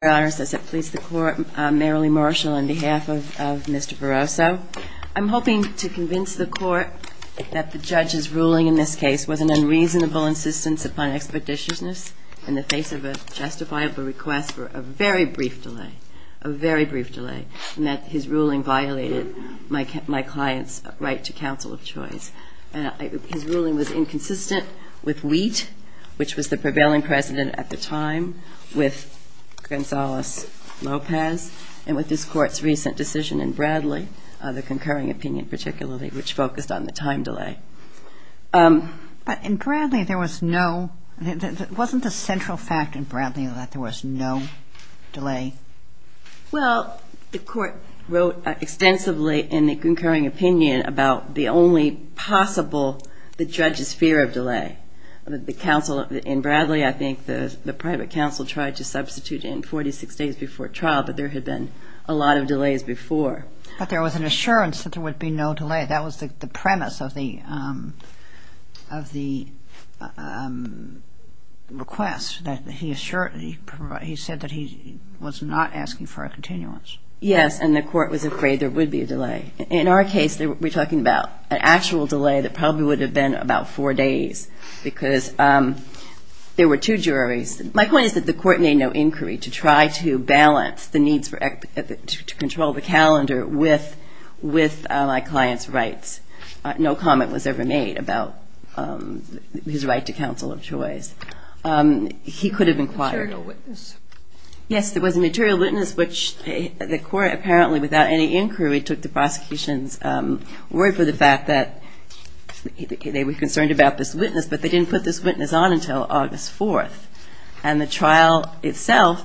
I'm hoping to convince the court that the judge's ruling in this case was an unreasonable insistence upon expeditiousness in the face of a justifiable request for a very brief delay, a very brief delay, and that his ruling violated my client's right to counsel of choice. His ruling was inconsistent with Wheat, which was the prevailing precedent at the time, with Gonzalez-Lopez, and with this Court's recent decision in Bradley, the concurring opinion particularly, which focused on the time delay. But in Bradley there was no, wasn't the central fact in Bradley that there was no delay? Well, the Court wrote extensively in the concurring opinion about the only possible, the judge's fear of delay. The counsel in Bradley, I think the private counsel tried to substitute in 46 days before trial, but there had been a lot of delays before. But there was an assurance that there would be no delay. That was the premise of the request, that he assured, he said that he was not asking for a continuance. Yes, and the Court was afraid there would be a delay. In our case, we're talking about an actual delay that probably would have been about four days, because there were two juries. My point is that the Court made no inquiry to try to balance the needs to control the calendar with my client's rights. No comment was ever made about his right to counsel of choice. He could have inquired. A material witness? Yes, there was a material witness, which the Court apparently, without any inquiry, took the prosecution's word for the fact that they were concerned about this witness, but they didn't put this witness on until August 4th. And the trial itself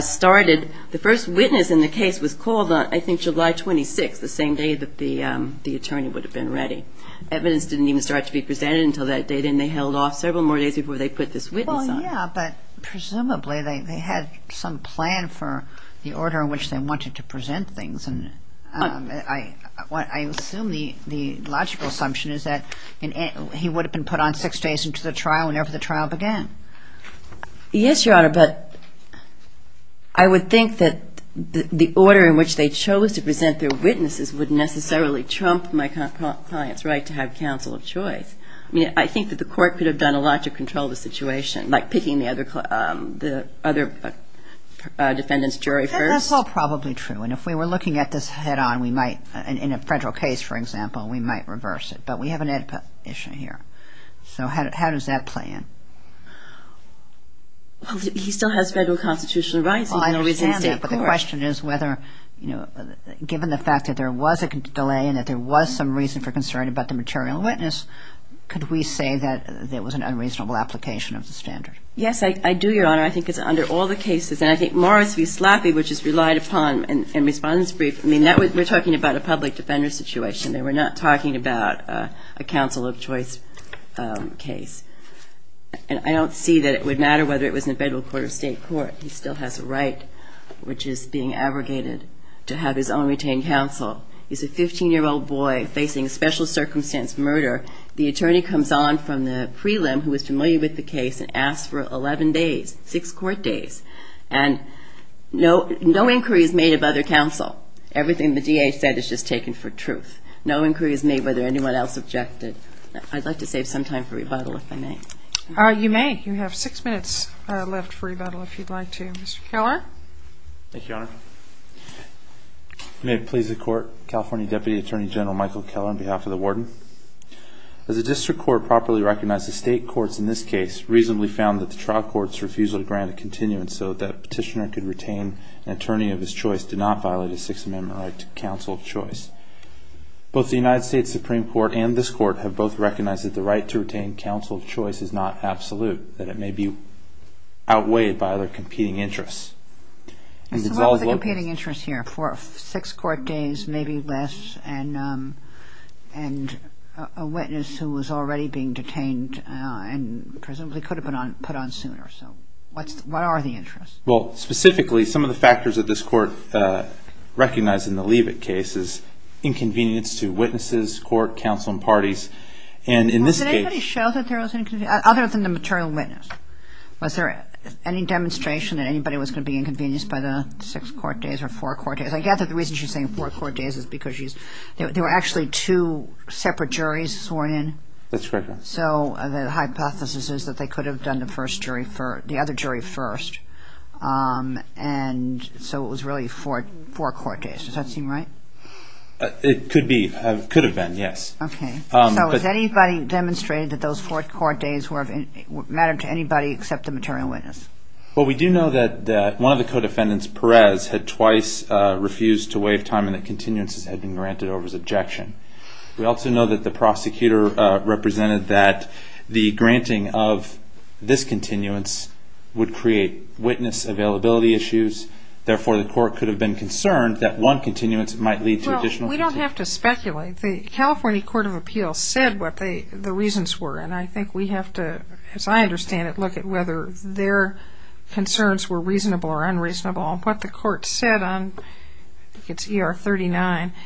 started, the first witness in the case was called on, I think, July 26th, the same day that the attorney would have been ready. Evidence didn't even start to be presented until that date, and they held off several more days before they put this witness on. Well, yeah, but presumably they had some plan for the order in which they wanted to present things, and I assume the logical assumption is that he would have been put on six days into the trial whenever the trial began. Yes, Your Honor, but I would think that the order in which they chose to present their witnesses would necessarily trump my client's right to have counsel of choice. I mean, I think that the Court could have done a lot to control the situation, like picking the other defendant's jury first. Well, that's all probably true, and if we were looking at this head-on, we might, in a federal case, for example, we might reverse it, but we have an edpa issue here. So how does that play in? Well, he still has federal constitutional rights, even though he's in state court. Well, I understand that, but the question is whether, you know, given the fact that there was a delay and that there was some reason for concern about the material witness, could we say that it was an unreasonable application of the standard? Yes, I do, Your Honor. I think it's under all the cases, and I think Morris v. Slaffy, which is relied upon in Respondent's Brief, I mean, we're talking about a public defender situation. They were not talking about a counsel of choice case, and I don't see that it would matter whether it was in a federal court or state court. He still has a right, which is being abrogated, to have his own retained counsel. He's a 15-year-old boy facing a special circumstance murder. The attorney comes on from the prelim who is familiar with the case and asks for 11 days, six court days, and no inquiry is made of other counsel. Everything the DA said is just taken for truth. No inquiry is made whether anyone else objected. I'd like to save some time for rebuttal, if I may. You may. You have six minutes left for rebuttal, if you'd like to. Mr. Keller? Thank you, Your Honor. May it please the Court, California Deputy Attorney General Michael Keller on behalf of the Warden. Does the district court properly recognize the state courts in this case reasonably found that the trial court's refusal to grant a continuance so that a petitioner could retain an attorney of his choice did not violate a Sixth Amendment right to counsel of choice? Both the United States Supreme Court and this Court have both recognized that the right to retain counsel of choice is not absolute, that it may be outweighed by other competing interests. And so what was the competing interest here for six court days, maybe less, and a witness who was already being detained and presumably could have been put on sooner? So what are the interests? Well, specifically, some of the factors that this Court recognized in the Leavitt case is inconvenience to witnesses, court, counsel, and parties. And in this case – Well, did anybody show that there was inconvenience, other than the material witness? Was there any demonstration that anybody was going to be inconvenienced by the six court days or four court days? I gather the reason she's saying four court days is because there were actually two separate juries sworn in. That's correct, ma'am. So the hypothesis is that they could have done the other jury first, and so it was really four court days. Does that seem right? It could be. It could have been, yes. Okay. So has anybody demonstrated that those four court days mattered to anybody except the material witness? Well, we do know that one of the co-defendants, Perez, had twice refused to waive time and that continuances had been granted over his ejection. We also know that the prosecutor represented that the granting of this continuance would create witness availability issues, therefore the court could have been concerned that one continuance might lead to additional – Well, we don't have to speculate. The California Court of Appeals said what the reasons were, and I think we have to – as I understand it – look at whether their concerns were reasonable or unreasonable. What the court said on – I think it's ER 39 –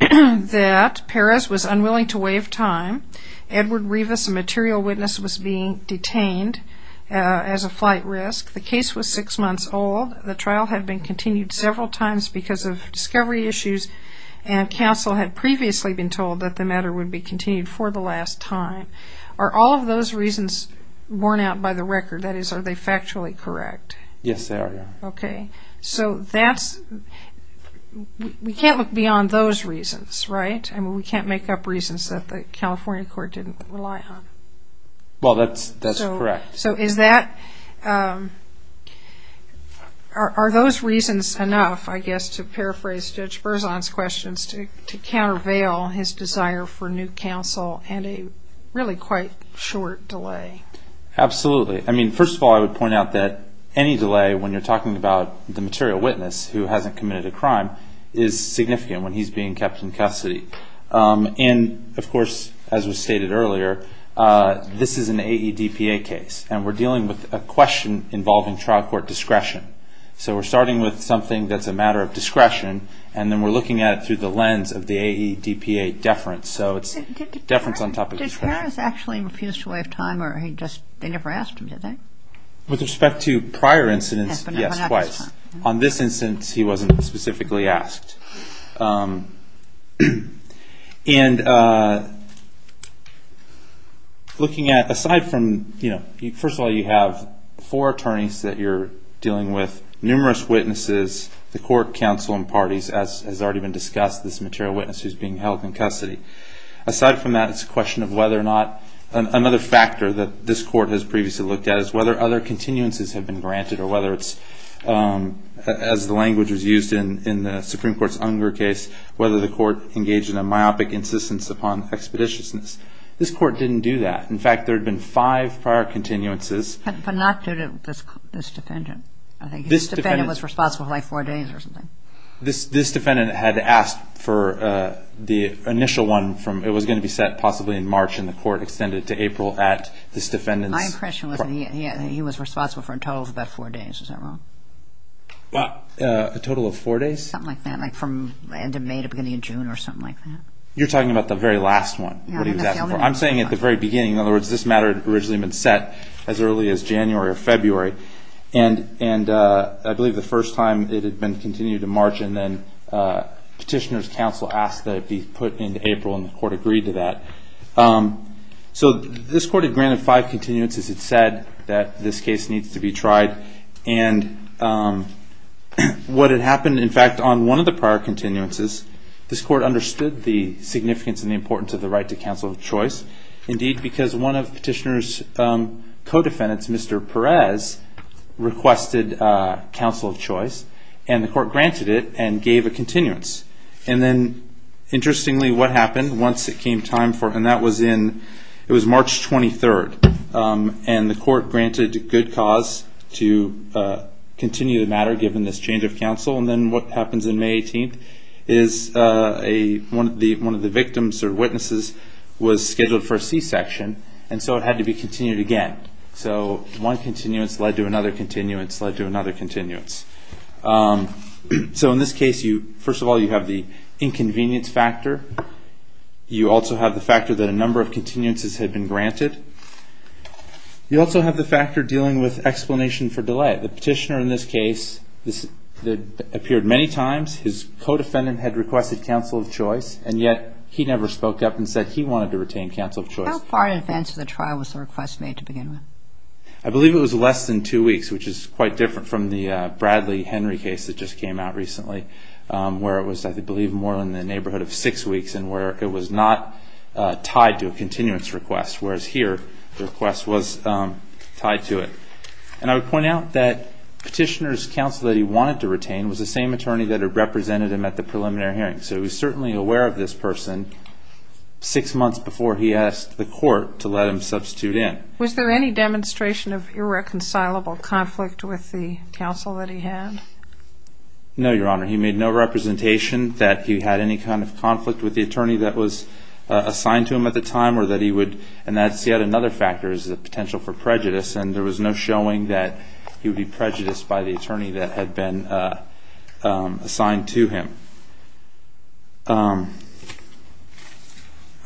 that Perez was unwilling to waive time, Edward Rivas, a material witness, was being detained as a flight risk, the case was six months old, the trial had been continued several times because of discovery issues, and counsel had previously been told that the matter would be continued for the last time. Are all of those reasons worn out by the record? That is, are they factually correct? Yes, they are, ma'am. Okay, so that's – we can't look beyond those reasons, right? I mean, we can't make up reasons that the California Court didn't rely on. Well, that's correct. So is that – are those reasons enough, I guess, to paraphrase Judge Berzon's questions, to countervail his desire for new counsel and a really quite short delay? Absolutely. I mean, first of all, I would point out that any delay, when you're talking about the material witness who hasn't committed a crime, is significant when he's being kept in custody. And, of course, as was stated earlier, this is an AEDPA case, and we're dealing with a question involving trial court discretion. So we're starting with something that's a matter of discretion, and then we're looking at it through the lens of the AEDPA deference, so it's deference on top of discretion. So did Harris actually refuse to waive time, or he just – they never asked him, did they? With respect to prior incidents, yes, twice. On this instance, he wasn't specifically asked. And looking at – aside from – first of all, you have four attorneys that you're dealing with, numerous witnesses, the court, counsel, and parties, as has already been discussed, this material witness who's being held in custody. Aside from that, it's a question of whether or not – another factor that this court has previously looked at is whether other continuances have been granted, or whether it's – as the language was used in the Supreme Court's Unger case, whether the court engaged in a myopic insistence upon expeditiousness. This court didn't do that. In fact, there had been five prior continuances – But not due to this defendant. I think this defendant was responsible for, like, four days or something. This defendant had asked for the initial one from – it was going to be set possibly in March, and the court extended it to April at this defendant's – My impression was that he was responsible for a total of about four days, is that wrong? A total of four days? Something like that. Like, from end of May to beginning of June, or something like that. You're talking about the very last one that he was asking for. I'm saying at the very beginning. In other words, this matter had originally been set as early as January or February. And I believe the first time it had been continued to March, and then Petitioner's counsel asked that it be put into April, and the court agreed to that. So this court had granted five continuances. It said that this case needs to be tried. And what had happened, in fact, on one of the prior continuances, this court understood the significance and the importance of the right to counsel of choice, indeed, because one of Petitioner's co-defendants, Mr. Perez, requested counsel of choice, and the court granted it and gave a continuance. And then, interestingly, what happened once it came time for – and that was in – it was March 23rd, and the court granted good cause to continue the matter given this change of counsel. And then what happens on May 18th is a – one of the victims or witnesses was scheduled for a C-section, and so it had to be continued again. So one continuance led to another continuance led to another continuance. So in this case, you – first of all, you have the inconvenience factor. You also have the factor that a number of continuances had been granted. You also have the factor dealing with explanation for delay. The Petitioner in this case – this appeared many times. His co-defendant had requested counsel of choice, and yet he never spoke up and said he wanted to retain counsel of choice. How far in advance of the trial was the request made to begin with? I believe it was less than two weeks, which is quite different from the Bradley-Henry case that just came out recently, where it was, I believe, more in the neighborhood of six weeks and where it was not tied to a continuance request, whereas here the request was tied to it. And I would point out that Petitioner's counsel that he wanted to retain was the same attorney that had represented him at the preliminary hearing. So he was certainly aware of this person six months before he asked the court to let him substitute in. Was there any demonstration of irreconcilable conflict with the counsel that he had? No, Your Honor. He made no representation that he had any kind of conflict with the attorney that was assigned to him at the time or that he would – and that's yet another factor is the potential for prejudice, and there was no showing that he would be prejudiced by the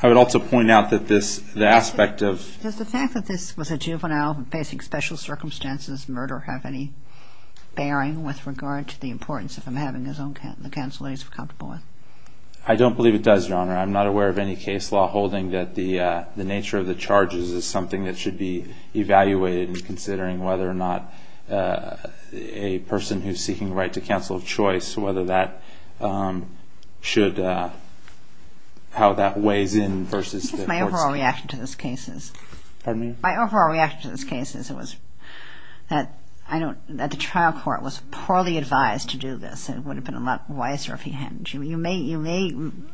I would also point out that this – the aspect of – Does the fact that this was a juvenile facing special circumstances murder have any bearing with regard to the importance of him having his own counsel that he's comfortable with? I don't believe it does, Your Honor. I'm not aware of any case law holding that the nature of the charges is something that should be evaluated in considering whether or not a person who's seeking the right to counsel of choice, whether that should – how that weighs in versus the court's – My overall reaction to this case is – Pardon me? My overall reaction to this case is it was – that I don't – that the trial court was poorly advised to do this. It would have been a lot wiser if he hadn't. You may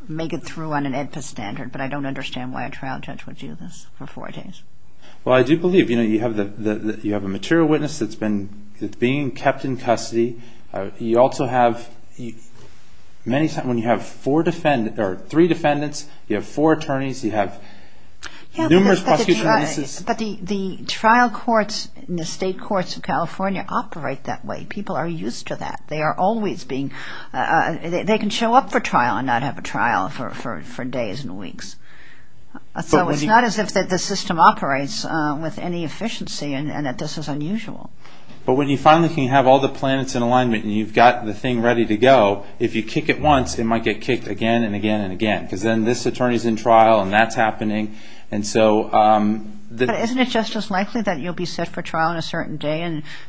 make it through on an AEDPA standard, but I don't understand why a trial judge would do this for four days. Well I do believe, you know, you have the – you have a material witness that's been kept in custody. You also have – many – when you have four defendants – or three defendants, you have four attorneys. You have numerous prosecutor witnesses. Yeah, but the trial courts in the state courts of California operate that way. People are used to that. They are always being – they can show up for trial and not have a trial for days and weeks. So it's not as if the system operates with any efficiency and that this is unusual. But when you finally can have all the planets in alignment and you've got the thing ready to go, if you kick it once, it might get kicked again and again and again, because then this attorney's in trial and that's happening. And so – But isn't it just as likely that you'll be set for trial on a certain day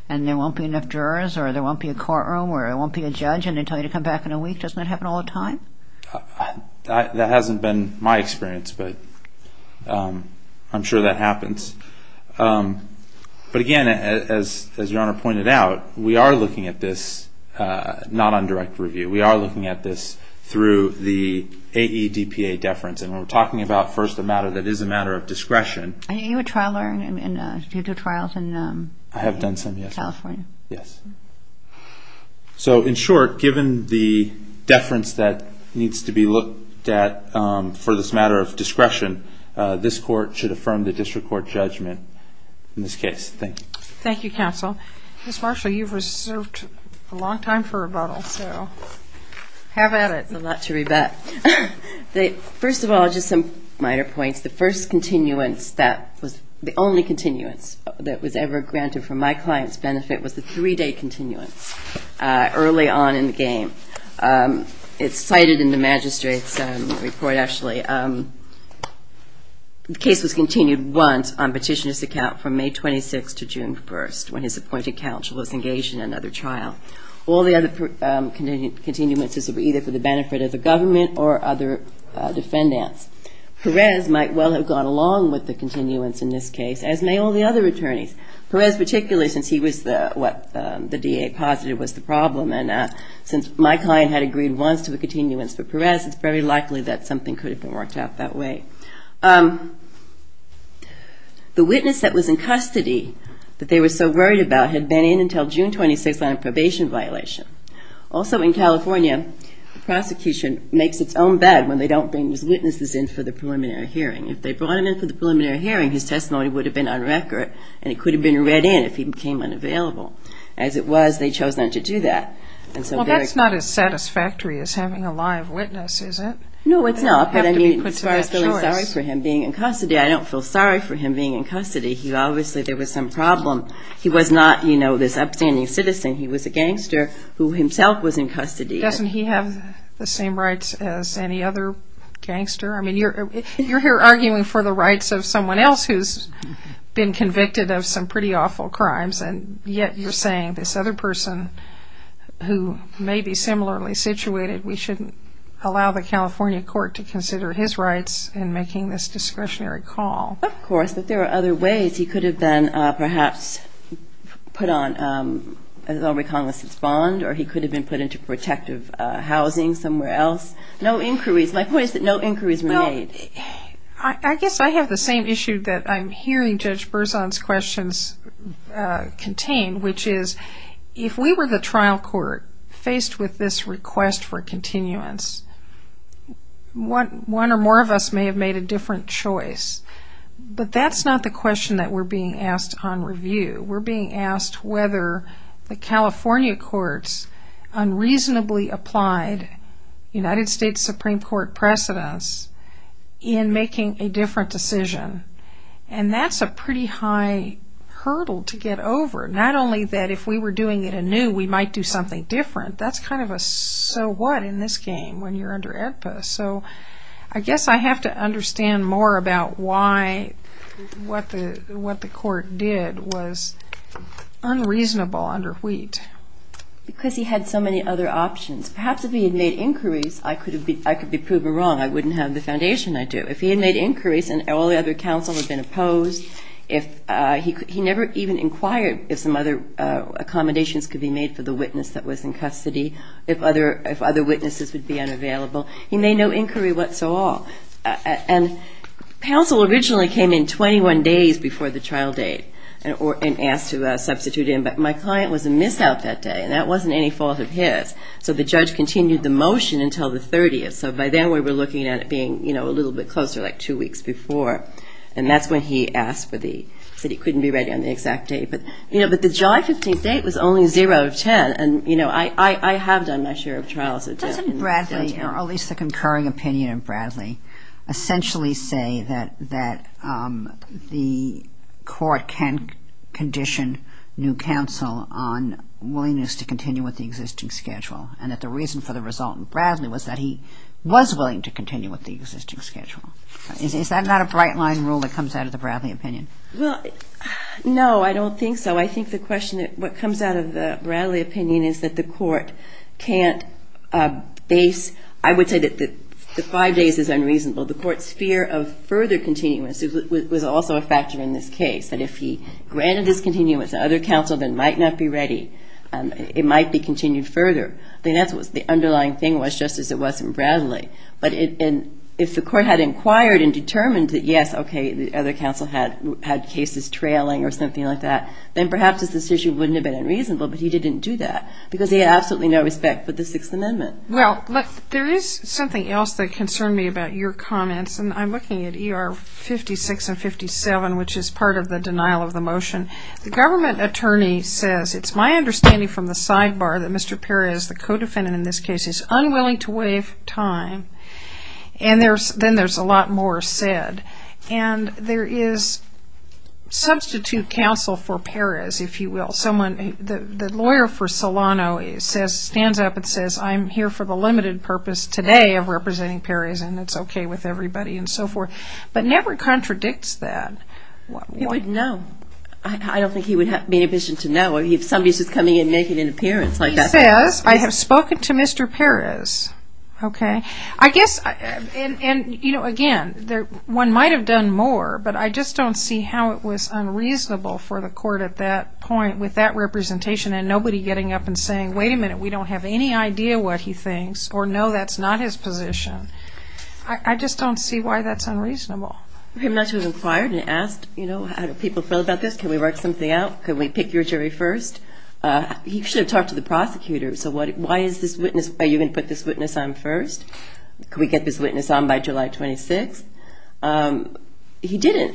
and there won't be enough jurors or there won't be a courtroom or there won't be a judge and they tell you to come back in a week? Doesn't that happen all the time? That hasn't been my experience, but I'm sure that happens. But again, as Your Honor pointed out, we are looking at this not on direct review. We are looking at this through the AEDPA deference. And when we're talking about first a matter that is a matter of discretion – Are you a trial lawyer? I mean, did you do trials in California? I have done some, yes. So in short, given the deference that needs to be looked at for this matter of discretion, this court should affirm the district court judgment in this case. Thank you. Thank you, counsel. Ms. Marshall, you've reserved a long time for rebuttal, so have at it. It's a lot to rebut. First of all, just some minor points. The first continuance that was the only continuance that was ever granted for my client's benefit was the three-day continuance early on in the game. It's cited in the magistrate's report, actually. The case was continued once on petitioner's account from May 26 to June 1, when his appointed counsel was engaged in another trial. All the other continuances were either for the benefit of the government or other defendants. Perez might well have gone along with the continuance in this case, as may all the other attorneys. Perez particularly, since he was what the DA posited was the problem. Since my client had agreed once to a continuance for Perez, it's very likely that something could have been worked out that way. The witness that was in custody that they were so worried about had been in until June 26 on a probation violation. Also in California, the prosecution makes its own bed when they don't bring these witnesses in for the preliminary hearing. If they brought him in for the preliminary hearing, his testimony would have been on record and it could have been read in if he became unavailable. As it was, they chose not to do that. Well, that's not as satisfactory as having a live witness, is it? No, it's not. But I mean, as far as feeling sorry for him being in custody, I don't feel sorry for him being in custody. He obviously, there was some problem. He was not, you know, this upstanding citizen. He was a gangster who himself was in custody. Doesn't he have the same rights as any other gangster? I mean, you're here arguing for the rights of someone else who's been convicted of some pretty awful crimes, and yet you're saying this other person who may be similarly situated, we shouldn't allow the California court to consider his rights in making this discretionary call. Of course. But there are other ways. He could have been perhaps put on a non-recognizance bond or he could have been put into protective housing somewhere else. No inquiries. My point is that no inquiries were made. I guess I have the same issue that I'm hearing Judge Berzon's questions contain, which is if we were the trial court faced with this request for continuance, one or more of us may have made a different choice. But that's not the question that we're being asked on review. We're being asked whether the California court's unreasonably applied United States Supreme Court precedence in making a different decision. And that's a pretty high hurdle to get over. Not only that if we were doing it anew, we might do something different. That's kind of a so what in this game when you're under AEDPA. So I guess I have to understand more about why what the court did was unreasonable under Wheat. Because he had so many other options. Perhaps if he had made inquiries, I could be proven wrong. I wouldn't have the foundation I do. If he had made inquiries and all the other counsel had been opposed, he never even inquired if some other accommodations could be made for the witness that was in custody, if other witnesses would be unavailable. He made no inquiry whatsoever. And counsel originally came in 21 days before the trial date and asked to substitute him. But my client was a miss out that day, and that wasn't any fault of his. So the judge continued the motion until the 30th. So by then, we were looking at it being a little bit closer, like two weeks before. And that's when he asked for the, said he couldn't be ready on the exact date. But the July 15th date was only zero out of 10. And I have done my share of trials. Doesn't Bradley, or at least the concurring opinion in Bradley, essentially say that the court can condition new counsel on willingness to continue with the existing schedule, and that the reason for the result in Bradley was that he was willing to continue with the existing schedule? Is that not a bright line rule that comes out of the Bradley opinion? Well, no, I don't think so. I think the question, what comes out of the Bradley opinion is that the court can't base, I would say that the five days is unreasonable. The court's fear of further continuance was also a factor in this case, that if he granted this continuance, the other counsel then might not be ready. It might be continued further. I think that's what the underlying thing was, just as it was in Bradley. But if the court had inquired and determined that, yes, okay, the other counsel had cases trailing or something like that, then perhaps this issue wouldn't have been unreasonable. But he didn't do that, because he had absolutely no respect for the Sixth Amendment. Well, there is something else that concerned me about your comments, and I'm looking at ER 56 and 57, which is part of the denial of the motion. The government attorney says, it's my understanding from the sidebar that Mr. Perez, the co-defendant in this case, is unwilling to waive time, and then there's a lot more said. And there is substitute counsel for Perez, if you will. The lawyer for Solano stands up and says, I'm here for the limited purpose today of representing Perez, and it's okay with everybody, and so forth. But never contradicts that. He wouldn't know. I don't think he would be in a position to know if somebody is coming in naked in appearance like that. He says, I have spoken to Mr. Perez. I guess, again, one might have done more, but I just don't see how it was unreasonable for the court at that point, with that representation, and nobody getting up and saying, wait a minute, we don't have any idea what he thinks, or no, that's not his position. I just don't see why that's unreasonable. I'm not sure he was inquired and asked, you know, how do people feel about this? Can we work something out? Can we pick your jury first? He should have talked to the prosecutor. So why is this witness, are you going to put this witness on first? Can we get this witness on by July 26th? He didn't.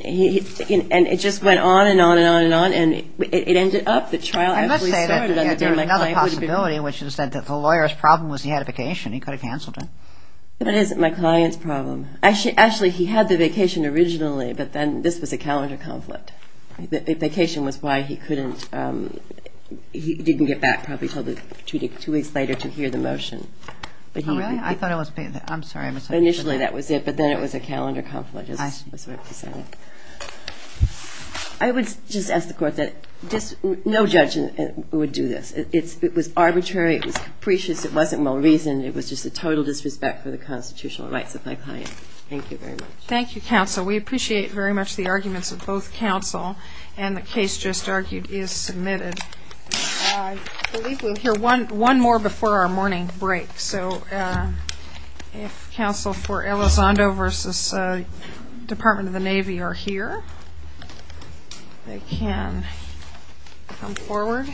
And it just went on and on and on and on. And it ended up, the trial actually started on the day my client went to bed. And let's say that there was another possibility, which is that the lawyer's problem was he had a vacation. He could have canceled it. But it isn't my client's problem. Actually, he had the vacation originally, but then this was a calendar conflict. The vacation was why he couldn't, he didn't get back probably until two weeks later to hear the motion. Oh, really? I thought it was, I'm sorry, I misunderstood that. I thought that was it. But then it was a calendar conflict. I would just ask the court that no judge would do this. It was arbitrary. It was capricious. It wasn't well-reasoned. It was just a total disrespect for the constitutional rights of my client. Thank you very much. Thank you, counsel. We appreciate very much the arguments of both counsel. And the case just argued is submitted. I believe we'll hear one more before our morning break. So if counsel for Elizondo v. Department of the Navy are here, they can come forward.